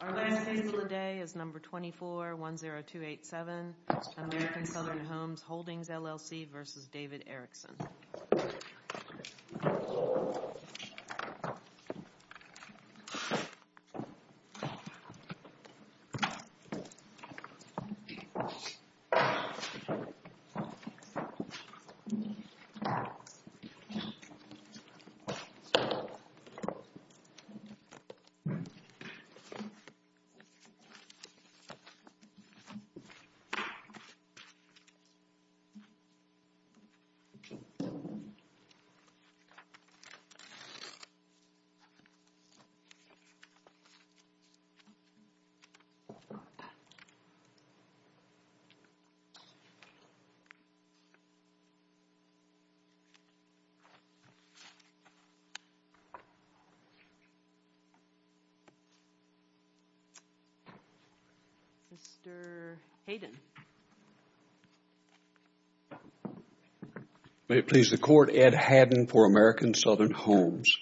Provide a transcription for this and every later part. Our last case of the day is number 2410287, American Southern Homes Holdings LLC v. David Erickson Mr. Hayden May it please the Court, Ed Hadden for American Southern Homes.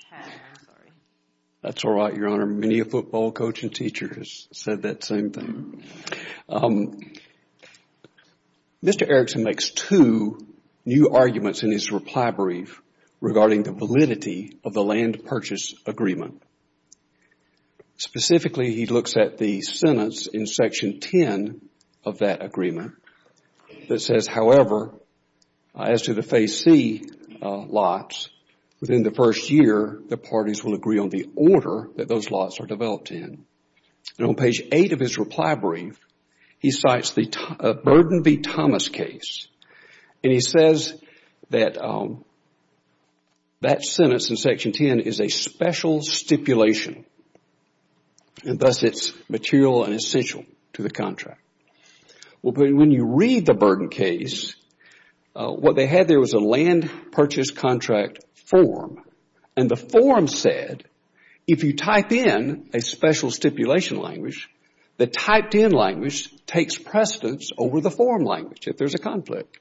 That's all right, Your Honor. Many a football coach and teacher has said that same thing. Mr. Erickson makes two new arguments in his reply brief regarding the validity of the land purchase agreement. Specifically, he looks at the sentence in section 10 of that agreement that says, however, as to the phase C lots, within the first year, the parties will agree on the order that those lots are developed in. On page 8 of his reply brief, he cites the Burden v. Thomas case and he says that that sentence in section 10 is a special stipulation and thus, it's material and essential to the contract. When you read the Burden case, what they had there was a land purchase contract form and the form said, if you type in a special stipulation language, the typed in language takes precedence over the form language if there's a conflict.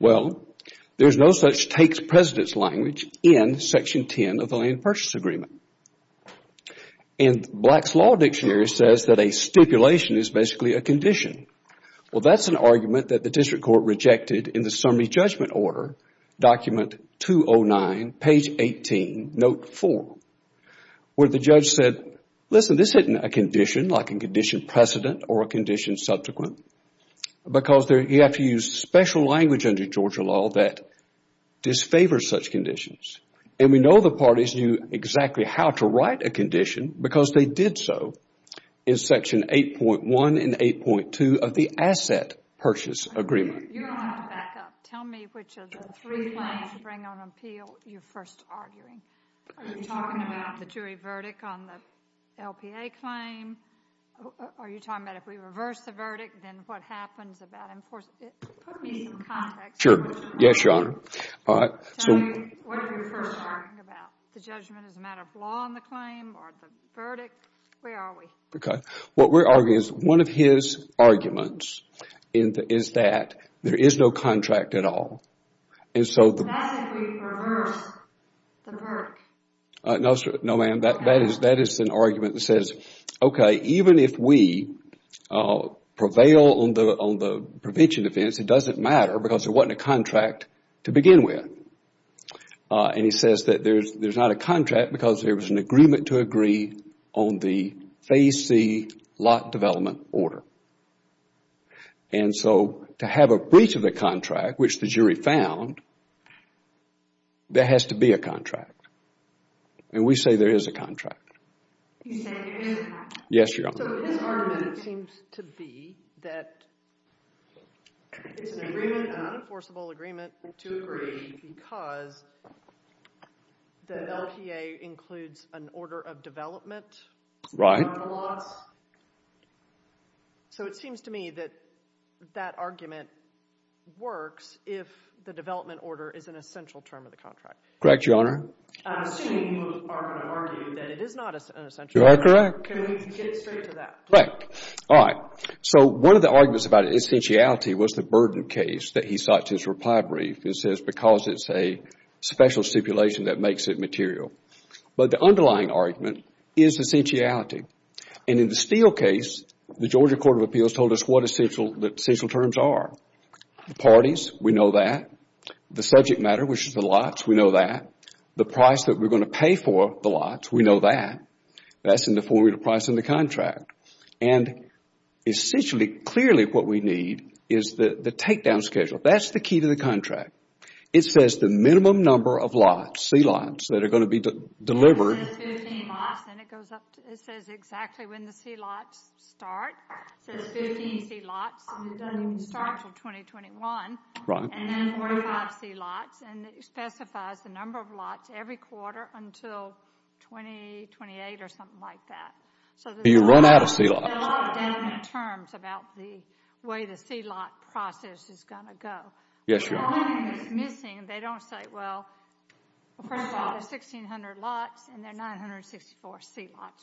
Well, there's no such takes precedence language in section 10 of the land purchase agreement. Black's Law Dictionary says that a stipulation is basically a condition. That's an argument that the district court rejected in the summary judgment order, document 209, page 18, note 4, where the judge said, listen, this isn't a condition like a condition precedent or a condition subsequent because you have to use special language under Georgia law that disfavors such conditions. We know the parties knew exactly how to write a condition because they did so in section 8.1 and 8.2 of the asset purchase agreement. You don't have to back up. Tell me which of the three claims you bring on appeal you're first arguing. Are you talking about the jury verdict on the LPA claim? Are you talking about if we reverse the verdict, then what happens about enforcing it? Put me in context. Yes, Your Honor. All right. Tell me, what are we first arguing about? The judgment as a matter of law on the claim or the verdict? Where are we? Okay. What we're arguing is one of his arguments is that there is no contract at all and so That's if we reverse the verdict. No, ma'am. That is an argument that says, okay, even if we prevail on the prevention defense, it doesn't matter because there wasn't a contract to begin with and he says that there's not a contract because there was an agreement to agree on the Phase C lot development order and so to have a breach of the contract, which the jury found, there has to be a contract and we say there is a contract. He's saying there is a contract? Yes, Your Honor. So his argument seems to be that it's an agreement, an enforceable agreement to agree because the LTA includes an order of development? Right. So it seems to me that that argument works if the development order is an essential term of the contract. Correct, Your Honor. I'm assuming you are going to argue that it is not an essential term of the contract. You are correct. Can we get straight to that? Correct. All right. So one of the arguments about essentiality was the burden case that he sought his reply brief. He says because it's a special stipulation that makes it material. But the underlying argument is essentiality and in the Steele case, the Georgia Court of Appeals told us what essential terms are. The parties, we know that. The subject matter, which is the lots, we know that. The price that we are going to pay for the lots, we know that. That's in the formula price in the contract and essentially, clearly what we need is the takedown schedule. That's the key to the contract. It says the minimum number of lots, sea lots, that are going to be delivered. It says 15 lots and it goes up. It says exactly when the sea lots start. It says 15 sea lots and it doesn't even start until 2021. Right. And then 45 sea lots and it specifies the number of lots every quarter until 2028 or something like that. So you run out of sea lots. There are a lot of definite terms about the way the sea lot process is going to go. Yes, Your Honor. The one thing that's missing, they don't say, well, first of all, there's 1,600 lots and there are 964 sea lots.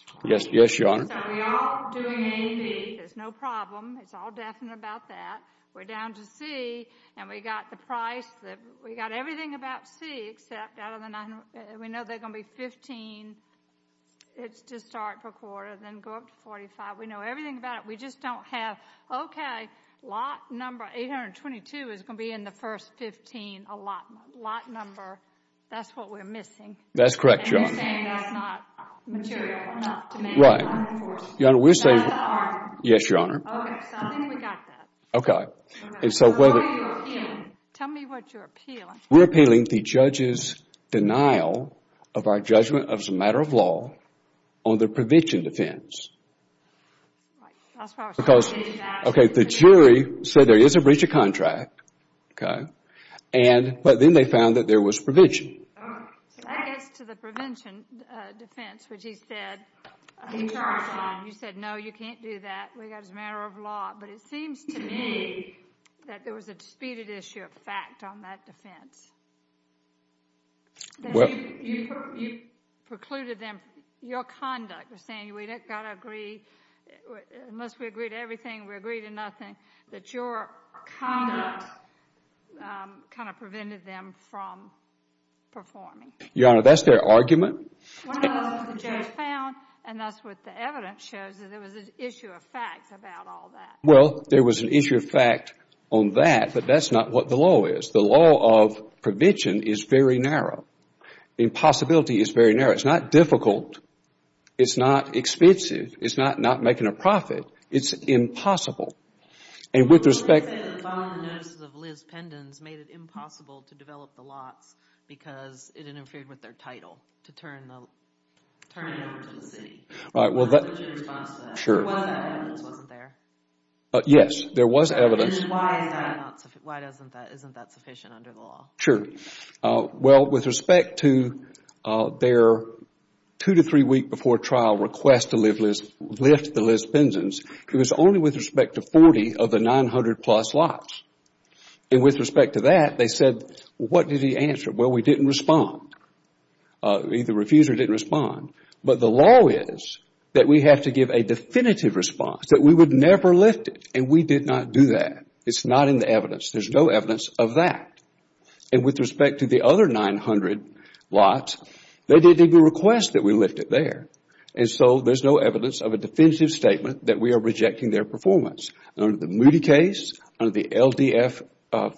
Yes, Your Honor. So we are doing A and B. There's no problem. It's all definite about that. We're down to C and we got the price. We got everything about C except out of the 9, we know there are going to be 15. It's to start per quarter, then go up to 45. We know that. We know everything about it. We just don't have, okay, lot number 822 is going to be in the first 15, a lot number. That's what we're missing. That's correct, Your Honor. And you're saying that's not material, not to make it unenforced. Right. That's the arm. Yes, Your Honor. Okay. I think we got that. Okay. So why are you appealing? Tell me what you're appealing. We're appealing the judge's denial of our judgment as a matter of law on the prevention defense because, okay, the jury said there is a breach of contract, okay, but then they found that there was prevention. Okay. So that gets to the prevention defense, which he said, you said, no, you can't do that. We got it as a matter of law, but it seems to me that there was a disputed issue of fact on that defense. You precluded them, your conduct was saying we don't got to agree, unless we agree to everything, we agree to nothing, that your conduct kind of prevented them from performing. Your Honor, that's their argument. One of those that the judge found, and that's what the evidence shows, is there was an issue of fact about all that. Well, there was an issue of fact on that, but that's not what the law is. The law of prevention is very narrow. The impossibility is very narrow. It's not difficult. It's not expensive. It's not not making a profit. It's impossible. And with respect... Well, let's say that following the notices of Liz Pendens made it impossible to develop the lots because it interfered with their title to turn it over to the city. Right. Well, that... What was your response to that? Well, there was evidence, wasn't there? Yes, there was evidence. And why isn't that sufficient under the law? Sure. Well, with respect to their two to three week before trial request to lift the Liz Pendens, it was only with respect to 40 of the 900 plus lots. And with respect to that, they said, what did he answer? Well, we didn't respond. Either refused or didn't respond. But the law is that we have to give a definitive response, that we would never lift it. And we did not do that. It's not in the evidence. There's no evidence of that. And with respect to the other 900 lots, they didn't even request that we lift it there. And so there's no evidence of a definitive statement that we are rejecting their performance. Under the Moody case, under the LDF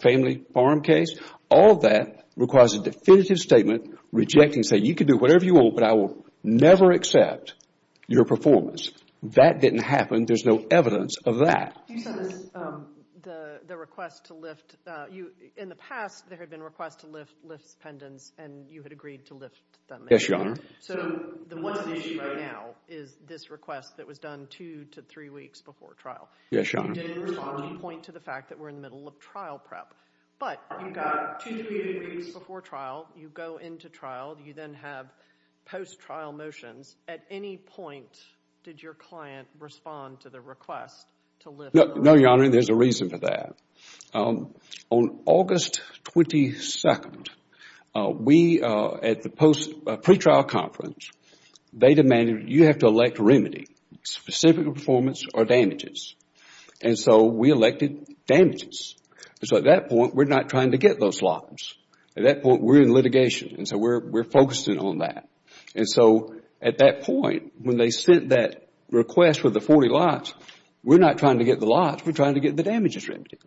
family farm case, all that requires a definitive statement rejecting saying you can do whatever you want, but I will never accept your performance. That didn't happen. There's no evidence of that. You said this, the request to lift. In the past, there had been requests to lift Liz Pendens, and you had agreed to lift them. Yes, Your Honor. So what's at issue right now is this request that was done two to three weeks before trial. Yes, Your Honor. You didn't respond. You point to the fact that we're in the middle of trial prep. But you got two to three weeks before trial. You go into trial. You then have post-trial motions. At any point, did your client respond to the request to lift? No, Your Honor. There's a reason for that. On August 22, we, at the pre-trial conference, they demanded you have to elect remedy, specific performance or damages. And so we elected damages. And so at that point, we're not trying to get those lots. At that point, we're in litigation, and so we're focusing on that. And so at that point, when they sent that request with the 40 lots, we're not trying to get the lots. We're trying to get the damages remedied.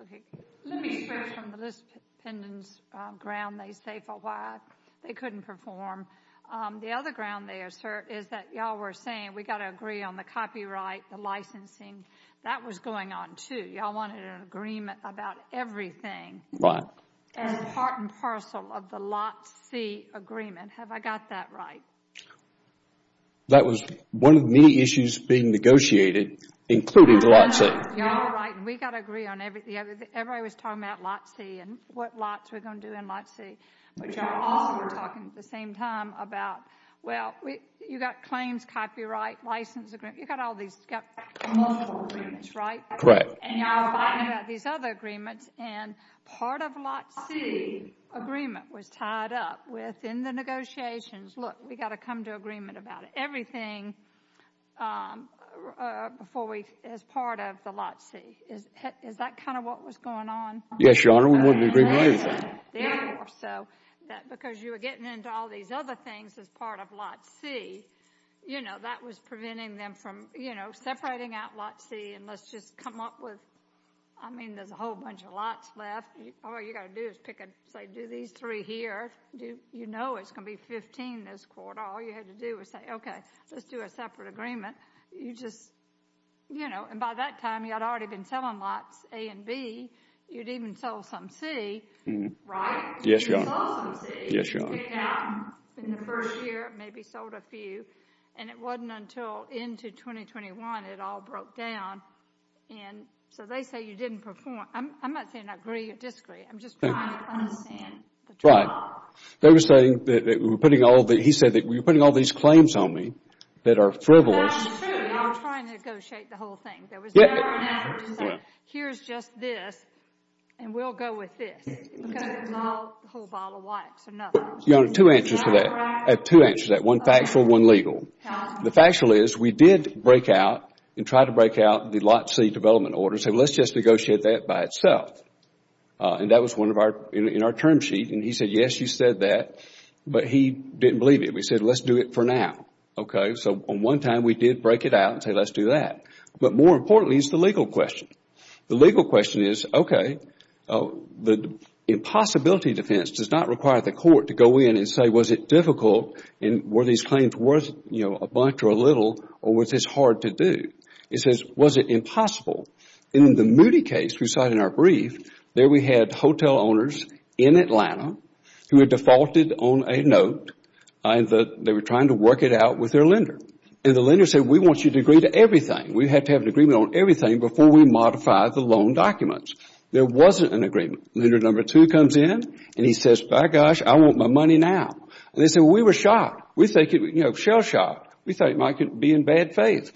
Okay. Let me start from Liz Pendens' ground, they say, for why they couldn't perform. The other ground they assert is that you all were saying we've got to agree on the copyright, the licensing. That was going on, too. You all wanted an agreement about everything. As part and parcel of the Lot C agreement. Have I got that right? That was one of the issues being negotiated, including Lot C. You're all right, and we've got to agree on everything. Everybody was talking about Lot C and what lots we're going to do in Lot C. But you all were talking at the same time about, well, you've got claims, copyright, license agreement. You've got multiple agreements, right? And you all were talking about these other agreements, and part of Lot C agreement was tied up within the negotiations. Look, we've got to come to agreement about everything as part of the Lot C. Is that kind of what was going on? Yes, Your Honor, we were in agreement on everything. Therefore, because you were getting into all these other things as part of Lot C, that was preventing them from separating out Lot C. And let's just come up with, I mean, there's a whole bunch of lots left. All you've got to do is say, do these three here. You know it's going to be 15 this quarter. All you had to do was say, okay, let's do a separate agreement. And by that time, you had already been selling Lots A and B. You'd even sold some C, right? Yes, Your Honor. In the first year, maybe sold a few. And it wasn't until into 2021, it all broke down. And so they say you didn't perform. I'm not saying I agree or disagree. I'm just trying to understand. They were saying that we were putting all the, he said that we were putting all these claims on me that are frivolous. That's true. We were trying to negotiate the whole thing. There was never an effort to say, here's just this, and we'll go with this. A whole bottle of wax, another. Your Honor, two answers to that. Two answers to that. One factual, one legal. The factual is we did break out and try to break out the Lots C development order. So let's just negotiate that by itself. And that was one of our, in our term sheet. And he said, yes, you said that. But he didn't believe it. He said, let's do it for now. Okay, so on one time, we did break it out and say, let's do that. But more importantly is the legal question. The legal question is, okay, the impossibility defense does not require the court to go in and say, was it difficult and were these claims worth a bunch or a little or was this hard to do? It says, was it impossible? In the Moody case we cited in our brief, there we had hotel owners in Atlanta who had defaulted on a note. They were trying to work it out with their lender. And the lender said, we want you to agree to everything. We have to have an agreement on everything before we modify the loan documents. There wasn't an agreement. Lender number two comes in and he says, by gosh, I want my money now. And they said, well, we were shocked. We thought it might be in bad faith.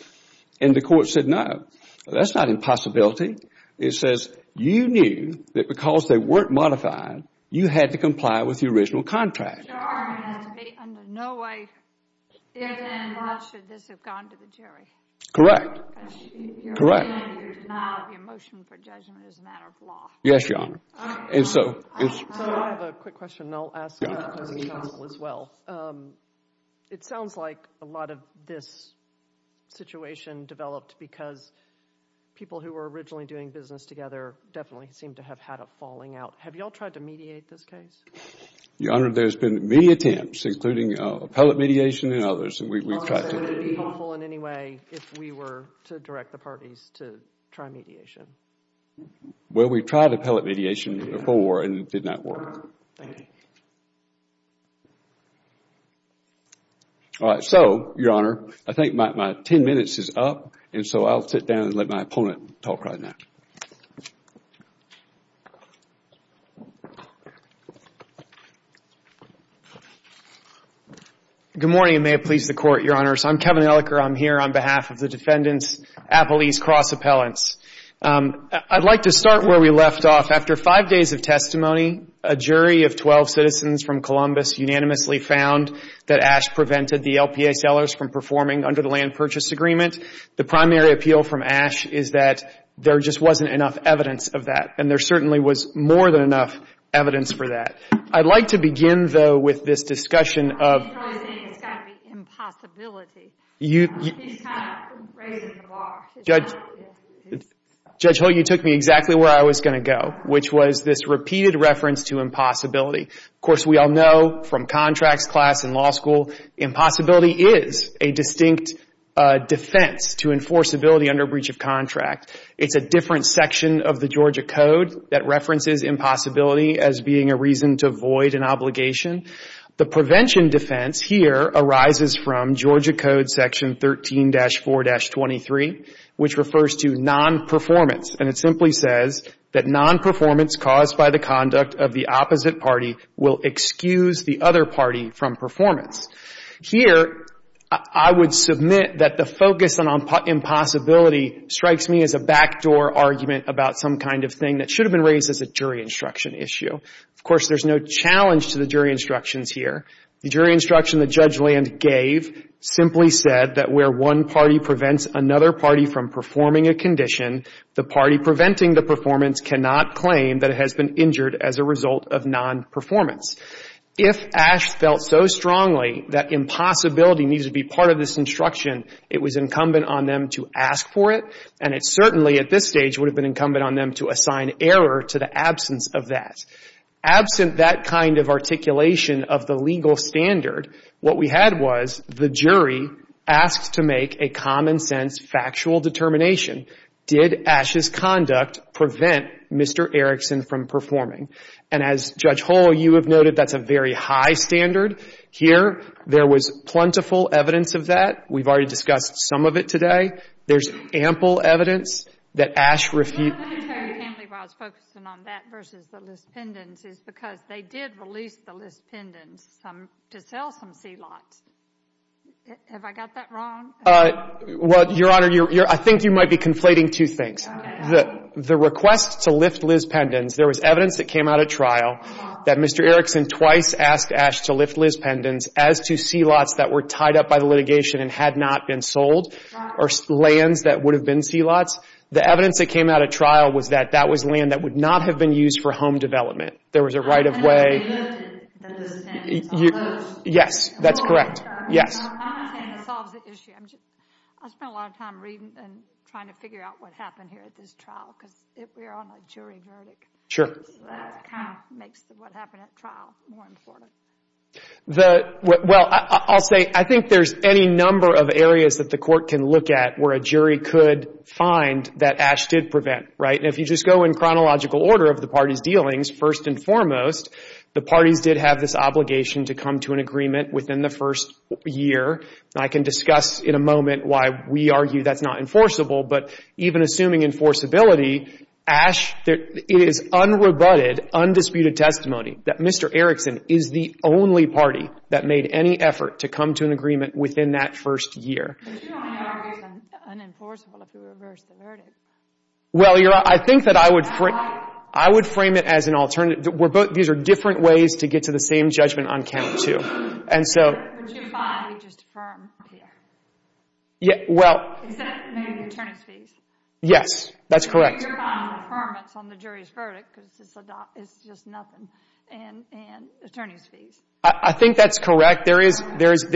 And the court said, no, that's not impossibility. It says, you knew that because they weren't modified, you had to comply with the original contract. Your Honor, there has been no way given, how should this have gone to the jury? Correct. Correct. Because your denial of your motion for judgment is a matter of law. Yes, Your Honor. All right. So I have a quick question and I'll ask it to the counsel as well. It sounds like a lot of this situation developed because people who were originally doing business together definitely seemed to have had a falling out. Have you all tried to mediate this case? Your Honor, there's been many attempts, including appellate mediation and others. Would it be helpful in any way if we were to direct the parties to try mediation? Well, we tried appellate mediation before and it did not work. Thank you. All right. So, Your Honor, I think my 10 minutes is up. And so I'll sit down and let my opponent talk right now. Good morning, and may it please the Court, Your Honors. I'm Kevin Elicker. I'm here on behalf of the defendants, Appellees Cross Appellants. I'd like to start where we left off. After five days of testimony, a jury of 12 citizens from Columbus unanimously found that Ash prevented the LPA sellers from performing under the Land Purchase Agreement. The primary appeal from Ash is that there just wasn't enough evidence of that, and there certainly was more than enough evidence for that. I'd like to begin, though, with this discussion of He's probably saying it's got to be impossibility. He's kind of raising the bar. Judge Hull, you took me exactly where I was going to go, which was this repeated reference to impossibility. Of course, we all know from contracts class in law school, impossibility is a distinct defense to enforceability under breach of contract. It's a different section of the Georgia Code that references impossibility as being a reason to void an obligation. The prevention defense here arises from Georgia Code Section 13-4-23, which refers to nonperformance, and it simply says that nonperformance caused by the conduct of the opposite party will excuse the other party from performance. Here, I would submit that the focus on impossibility strikes me as a backdoor argument about some kind of thing that should have been raised as a jury instruction issue. Of course, there's no challenge to the jury instructions here. The jury instruction that Judge Land gave simply said that where one party prevents another party from performing a condition, the party preventing the performance cannot claim that it has been injured as a result of nonperformance. If Ash felt so strongly that impossibility needs to be part of this instruction, it was incumbent on them to ask for it, and it certainly at this stage would have been incumbent on them to assign error to the absence of that. Absent that kind of articulation of the legal standard, what we had was the jury asked to make a common-sense factual determination. Did Ash's conduct prevent Mr. Erickson from performing? And as Judge Hull, you have noted, that's a very high standard. Here, there was plentiful evidence of that. We've already discussed some of it today. There's ample evidence that Ash refuted. The only reason I was focusing on that versus the Liz Pendens is because they did release the Liz Pendens to sell some C-LOTs. Have I got that wrong? Well, Your Honor, I think you might be conflating two things. The request to lift Liz Pendens, there was evidence that came out at trial that Mr. Erickson twice asked Ash to lift Liz Pendens as to C-LOTs that were tied up by the litigation and had not been sold or lands that would have been C-LOTs. The evidence that came out at trial was that that was land that would not have been used for home development. There was a right-of-way. Yes, that's correct. Yes. I spent a lot of time reading and trying to figure out what happened here at this trial because we're on a jury verdict. That kind of makes what happened at trial more important. Well, I'll say I think there's any number of areas that the court can look at where a jury could find that Ash did prevent, right? And if you just go in chronological order of the parties' dealings, first and foremost, the parties did have this obligation to come to an agreement within the first year. I can discuss in a moment why we argue that's not enforceable, but even assuming enforceability, Ash, it is unrebutted, undisputed testimony that Mr. Erickson is the only party that made any effort to come to an agreement within that first year. But you don't argue it's unenforceable if you reverse the verdict. Well, I think that I would frame it as an alternative. These are different ways to get to the same judgment on count two. Would you find he just affirmed the error? Is that maybe the attorney's fees? Yes, that's correct. Your comments on the jury's verdict, because it's just nothing, and attorney's fees. I think that's correct. There is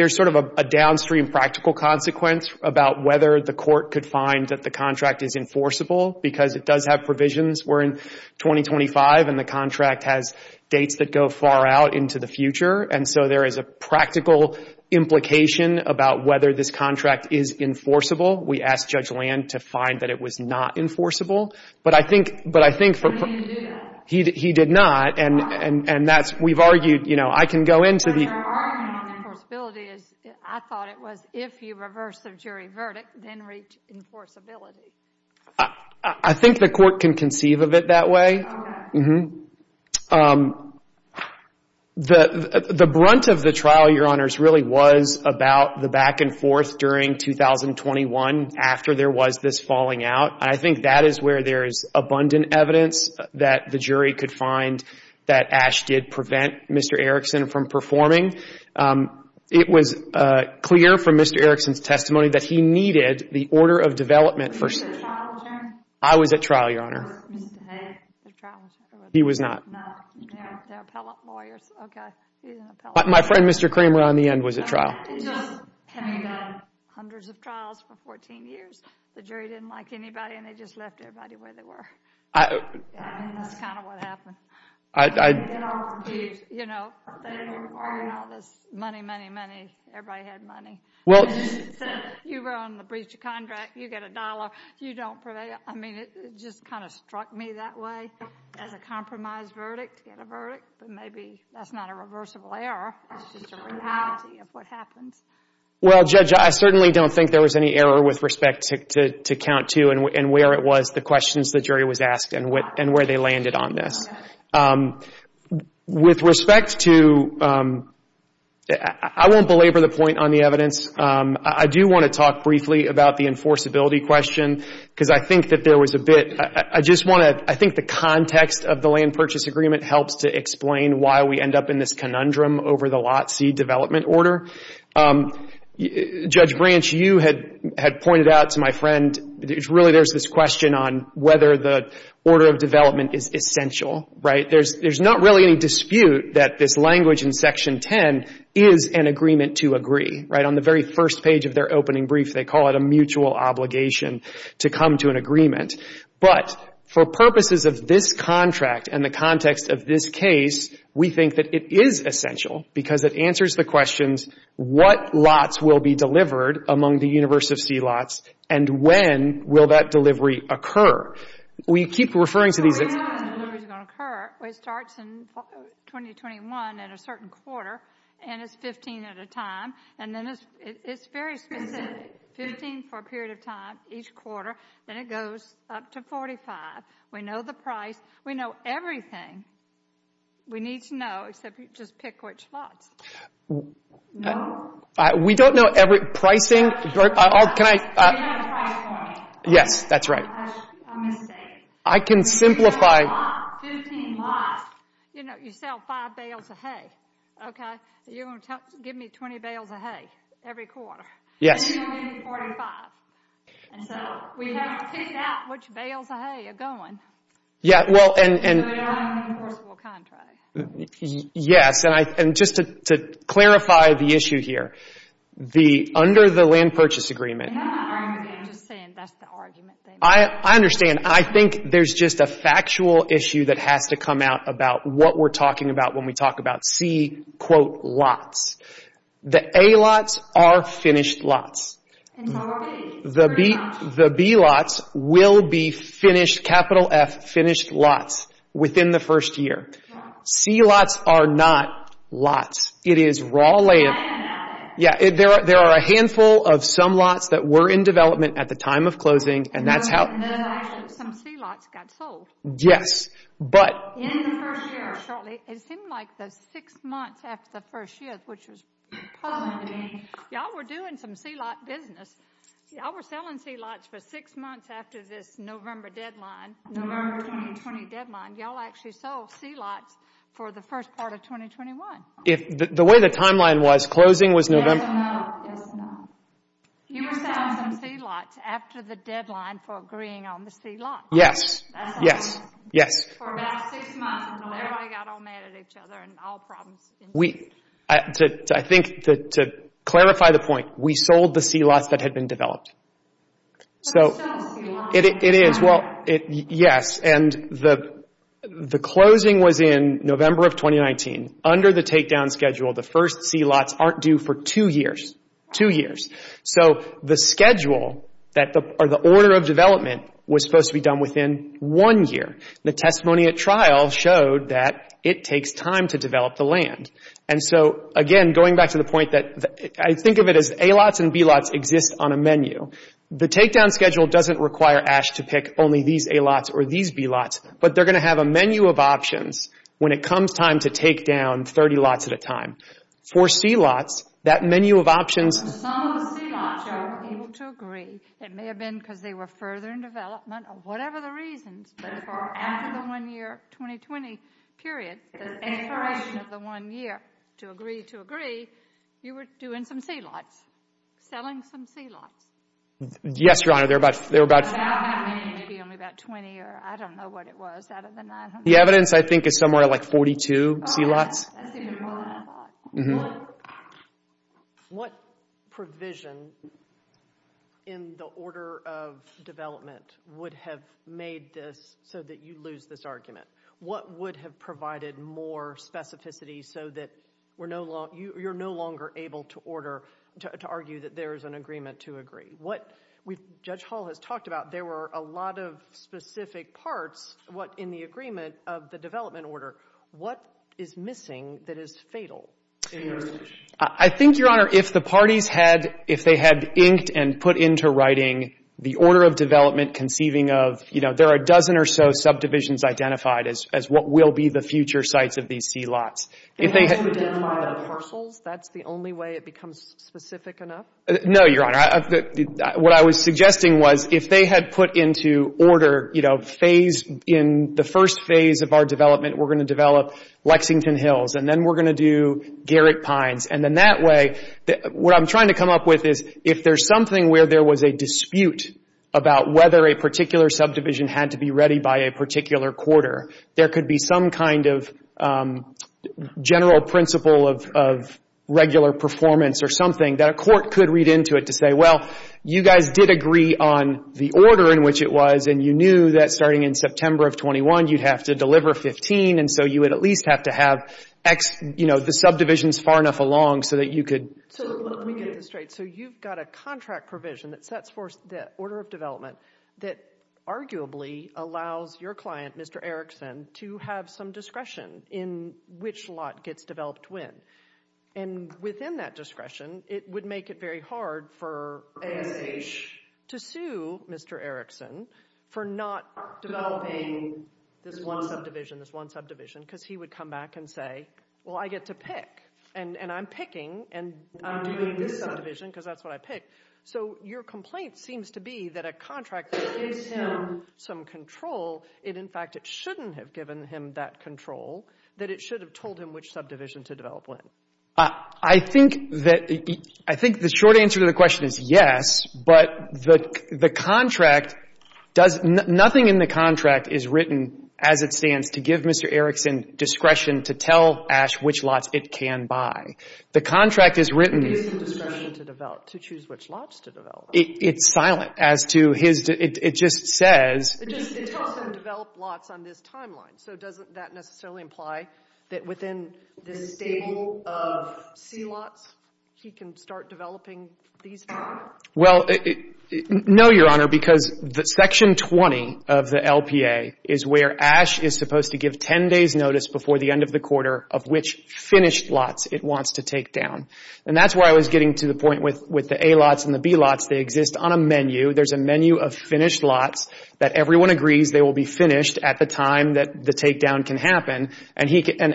sort of a downstream practical consequence about whether the court could find that the contract is enforceable because it does have provisions. We're in 2025, and the contract has dates that go far out into the future, and so there is a practical implication about whether this contract is enforceable. We asked Judge Land to find that it was not enforceable. But I think for— He didn't do that. He did not, and that's—we've argued, you know, I can go into the— But your argument on enforceability is I thought it was if you reverse the jury verdict, then reach enforceability. I think the court can conceive of it that way. Okay. Mm-hmm. The brunt of the trial, Your Honors, really was about the back and forth during 2021 after there was this falling out, and I think that is where there is abundant evidence that the jury could find that Ash did prevent Mr. Erickson from performing. It was clear from Mr. Erickson's testimony that he needed the order of development for— Were you at trial, Joe? I was at trial, Your Honor. The trial was over. He was not. No. They're appellate lawyers. He's an appellate lawyer. My friend, Mr. Kramer, on the end was at trial. And just having done hundreds of trials for 14 years, the jury didn't like anybody and they just left everybody where they were. I— I mean, that's kind of what happened. I— You know, they were requiring all this money, money, money. Everybody had money. Well— You were on the breach of contract. You get a dollar. You don't prevail. Yeah. I mean, it just kind of struck me that way as a compromised verdict to get a verdict. But maybe that's not a reversible error. It's just a reality of what happens. Well, Judge, I certainly don't think there was any error with respect to Count 2 and where it was, the questions the jury was asked and where they landed on this. Okay. With respect to—I won't belabor the point on the evidence. I do want to talk briefly about the enforceability question because I think that there was a bit—I just want to— I think the context of the land purchase agreement helps to explain why we end up in this conundrum over the lot C development order. Judge Branch, you had pointed out to my friend, really there's this question on whether the order of development is essential, right? There's not really any dispute that this language in Section 10 is an agreement to agree, right? On the very first page of their opening brief, they call it a mutual obligation to come to an agreement. But for purposes of this contract and the context of this case, we think that it is essential because it answers the questions, what lots will be delivered among the universe of C lots and when will that delivery occur? We keep referring to these— It starts in 2021 at a certain quarter and it's 15 at a time. And then it's very specific, 15 for a period of time each quarter. Then it goes up to 45. We know the price. We know everything. We need to know except just pick which lots. No. We don't know every—pricing. Can I— Yes, that's right. I can simplify. You know, you sell five bales of hay. You're going to give me 20 bales of hay every quarter. Yes. And you're going to give me 45. And so we have to pick out which bales of hay are going. Yeah, well, and— So we don't have an enforceable contract. Yes, and just to clarify the issue here, under the land purchase agreement— I'm just saying that's the argument they make. I think there's just a factual issue that has to come out about what we're talking about when we talk about C, quote, lots. The A lots are finished lots. And how are B? The B lots will be finished, capital F, finished lots within the first year. C lots are not lots. It is raw land. Yeah, there are a handful of some lots that were in development at the time of closing, and that's how— Some C lots got sold. Yes, but— In the first year, it seemed like the six months after the first year, which was puzzling to me, y'all were doing some C lot business. Y'all were selling C lots for six months after this November deadline, November 2020 deadline. Y'all actually sold C lots for the first part of 2021. The way the timeline was, closing was November— No, it's not. You were selling some C lots after the deadline for agreeing on the C lots. Yes, yes, yes. For about six months until everybody got all mad at each other and all problems. I think to clarify the point, we sold the C lots that had been developed. But it's still a C lot. It is. Well, yes, and the closing was in November of 2019. Under the takedown schedule, the first C lots aren't due for two years, two years. So the schedule or the order of development was supposed to be done within one year. The testimony at trial showed that it takes time to develop the land. And so, again, going back to the point that I think of it as A lots and B lots exist on a menu. The takedown schedule doesn't require ASH to pick only these A lots or these B lots. But they're going to have a menu of options when it comes time to take down 30 lots at a time. For C lots, that menu of options— Some of the C lots y'all were able to agree. It may have been because they were further in development or whatever the reasons. But for after the one-year 2020 period, the expiration of the one year to agree to agree, you were doing some C lots, selling some C lots. Yes, Your Honor. There were about— About how many? Maybe only about 20 or I don't know what it was out of the 900. The evidence, I think, is somewhere like 42 C lots. That's even more than I thought. What provision in the order of development would have made this so that you lose this argument? What would have provided more specificity so that you're no longer able to order— to argue that there is an agreement to agree? What Judge Hall has talked about, there were a lot of specific parts in the agreement of the development order. What is missing that is fatal? I think, Your Honor, if the parties had inked and put into writing the order of development conceiving of, you know, there are a dozen or so subdivisions identified as what will be the future sites of these C lots. If they had— Can you identify the parcels? That's the only way it becomes specific enough? No, Your Honor. What I was suggesting was if they had put into order, you know, phase— in the first phase of our development, we're going to develop Lexington Hills, and then we're going to do Garrick Pines. And then that way, what I'm trying to come up with is if there's something where there was a dispute about whether a particular subdivision had to be ready by a particular quarter, there could be some kind of general principle of regular performance or something that a court could read into it to say, well, you guys did agree on the order in which it was, and you knew that starting in September of 21, you'd have to deliver 15, and so you would at least have to have, you know, the subdivisions far enough along so that you could— So let me get this straight. So you've got a contract provision that sets forth the order of development that arguably allows your client, Mr. Erickson, to have some discretion in which lot gets developed when. And within that discretion, it would make it very hard for ASH to sue Mr. Erickson for not developing this one subdivision, this one subdivision, because he would come back and say, well, I get to pick, and I'm picking, and I'm doing this subdivision because that's what I picked. So your complaint seems to be that a contract that gives him some control, in fact, it shouldn't have given him that control, that it should have told him which subdivision to develop when. I think the short answer to the question is yes, but the contract does—nothing in the contract is written as it stands to give Mr. Erickson discretion to tell ASH which lots it can buy. The contract is written— It gives him discretion to choose which lots to develop. It's silent as to his—it just says— It tells him to develop lots on this timeline, so doesn't that necessarily imply that within this stable of C lots, he can start developing these five? Well, no, Your Honor, because Section 20 of the LPA is where ASH is supposed to give 10 days' notice before the end of the quarter of which finished lots it wants to take down, and that's where I was getting to the point with the A lots and the B lots. They exist on a menu. There's a menu of finished lots that everyone agrees they will be finished at the time that the takedown can happen, and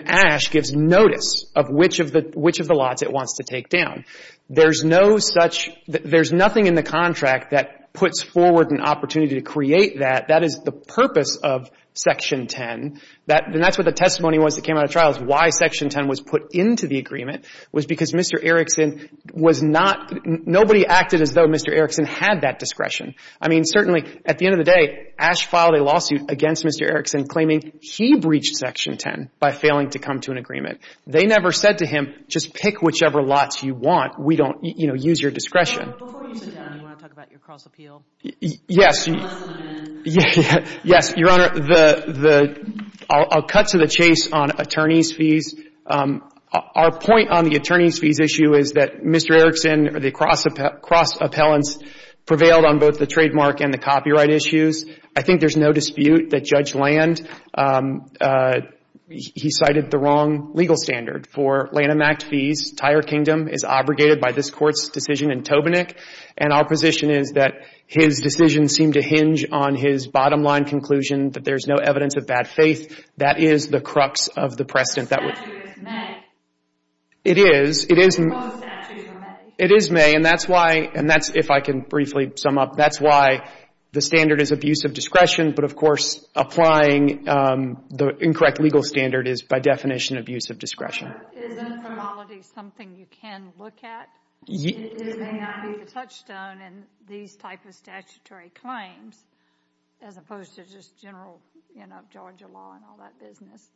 ASH gives notice of which of the lots it wants to take down. There's no such—there's nothing in the contract that puts forward an opportunity to create that. That is the purpose of Section 10, and that's what the testimony was that came out of trial is why Section 10 was put into the agreement was because Mr. Erickson was not— nobody acted as though Mr. Erickson had that discretion. I mean, certainly at the end of the day, ASH filed a lawsuit against Mr. Erickson claiming he breached Section 10 by failing to come to an agreement. They never said to him, just pick whichever lots you want. We don't, you know, use your discretion. Before you sit down, do you want to talk about your cross-appeal? Yes. Yes, Your Honor. I'll cut to the chase on attorney's fees. Our point on the attorney's fees issue is that Mr. Erickson, the cross-appellants prevailed on both the trademark and the copyright issues. I think there's no dispute that Judge Land, he cited the wrong legal standard for Lanham Act fees. Tyre Kingdom is obligated by this Court's decision in Tobinick, and our position is that his decision seemed to hinge on his bottom line conclusion that there's no evidence of bad faith. That is the crux of the precedent. The statute is May. It is. Both statutes are May. It is May, and that's why—and that's, if I can briefly sum up, that's why the standard is abuse of discretion, but, of course, applying the incorrect legal standard is, by definition, abuse of discretion. But isn't formality something you can look at? It may not be the touchstone in these type of statutory claims as opposed to just general, you know, Georgia law and all that business.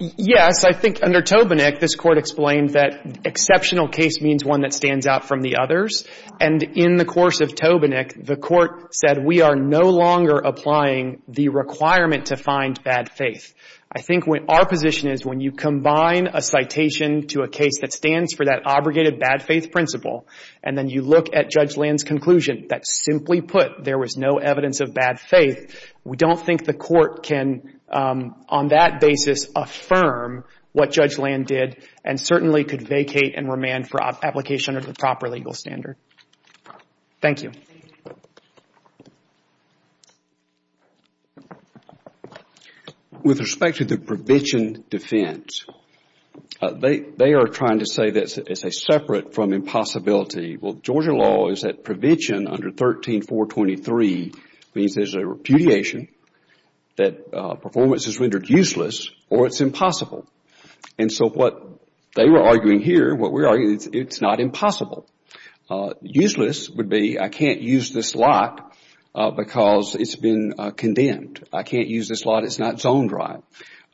Yes. I think under Tobinick, this Court explained that exceptional case means one that stands out from the others, and in the course of Tobinick, the Court said we are no longer applying the requirement to find bad faith. I think our position is when you combine a citation to a case that stands for that obligated bad faith principle, and then you look at Judge Land's conclusion that, simply put, there was no evidence of bad faith, we don't think the Court can, on that basis, affirm what Judge Land did and certainly could vacate and remand for application under the proper legal standard. Thank you. With respect to the provision defense, they are trying to say that it's separate from impossibility. Well, Georgia law is that prevention under 13.423 means there's a repudiation, that performance is rendered useless or it's impossible. And so what they were arguing here, what we're arguing, it's not impossible. Useless would be I can't use this lot because it's been condemned. I can't use this lot. It's not zoned right.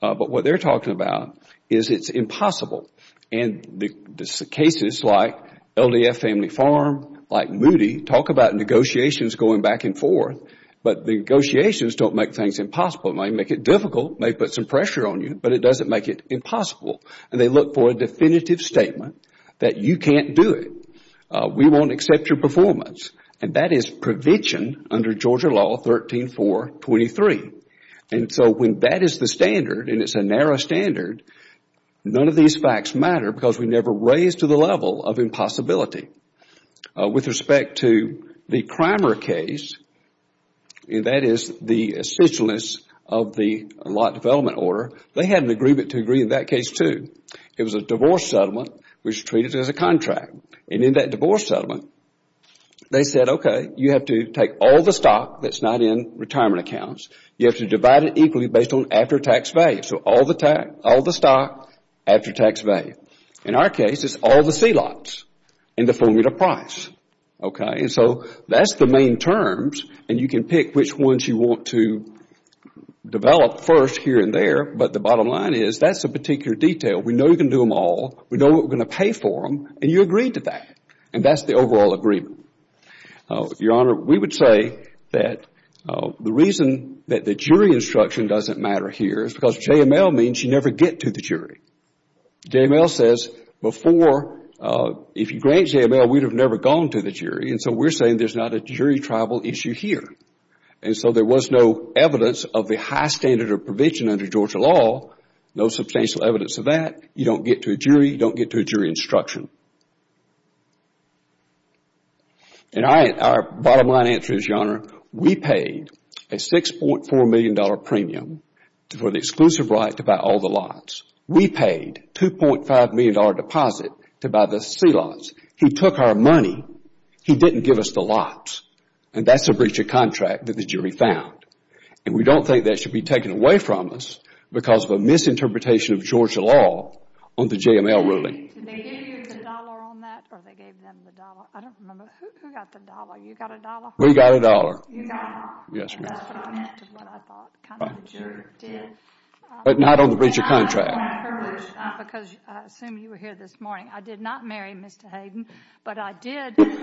But what they're talking about is it's impossible. And the cases like LDF Family Farm, like Moody, talk about negotiations going back and forth, but the negotiations don't make things impossible. It might make it difficult. It might put some pressure on you, but it doesn't make it impossible. And they look for a definitive statement that you can't do it. We won't accept your performance. And that is prevention under Georgia law 13.423. And so when that is the standard and it's a narrow standard, none of these facts matter because we never raise to the level of impossibility. With respect to the Crimer case, that is the essentialness of the law development order, they had an agreement to agree in that case too. It was a divorce settlement which treated it as a contract. And in that divorce settlement, they said, okay, you have to take all the stock that's not in retirement accounts. You have to divide it equally based on after-tax value. So all the stock, after-tax value. In our case, it's all the C lots in the formula price. And so that's the main terms, and you can pick which ones you want to develop first here and there. But the bottom line is that's a particular detail. We know you can do them all. We know what we're going to pay for them. And you agreed to that. And that's the overall agreement. Your Honor, we would say that the reason that the jury instruction doesn't matter here is because JML means you never get to the jury. JML says before, if you grant JML, we'd have never gone to the jury. And so we're saying there's not a jury tribal issue here. And so there was no evidence of the high standard of provision under Georgia law, no substantial evidence of that. You don't get to a jury, you don't get to a jury instruction. And our bottom line answer is, Your Honor, we paid a $6.4 million premium for the exclusive right to buy all the lots. We paid $2.5 million deposit to buy the C lots. He took our money. He didn't give us the lots. And that's a breach of contract that the jury found. And we don't think that should be taken away from us because of a misinterpretation of Georgia law on the JML ruling. Did they give you the dollar on that or they gave them the dollar? I don't remember. Who got the dollar? You got a dollar? We got a dollar. You got a dollar. Yes, ma'am. And that's what I meant to what I thought the jury did. But not on the breach of contract. Because I assume you were here this morning, I did not marry Mr. Hayden, but I did know him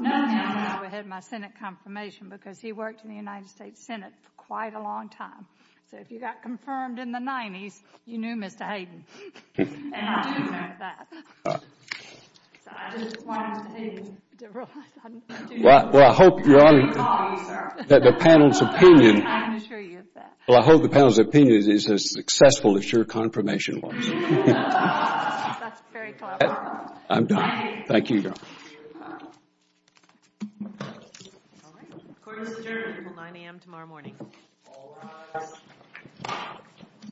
when I had my Senate confirmation because he worked in the United States Senate for quite a long time. So if you got confirmed in the 90s, you knew Mr. Hayden. And I do know that. So I just wanted to take the role. Well, I hope that the panel's opinion is as successful as your confirmation was. That's very clever. I'm done. Thank you. Thank you. All right. Court is adjourned until 9 a.m. tomorrow morning. All rise.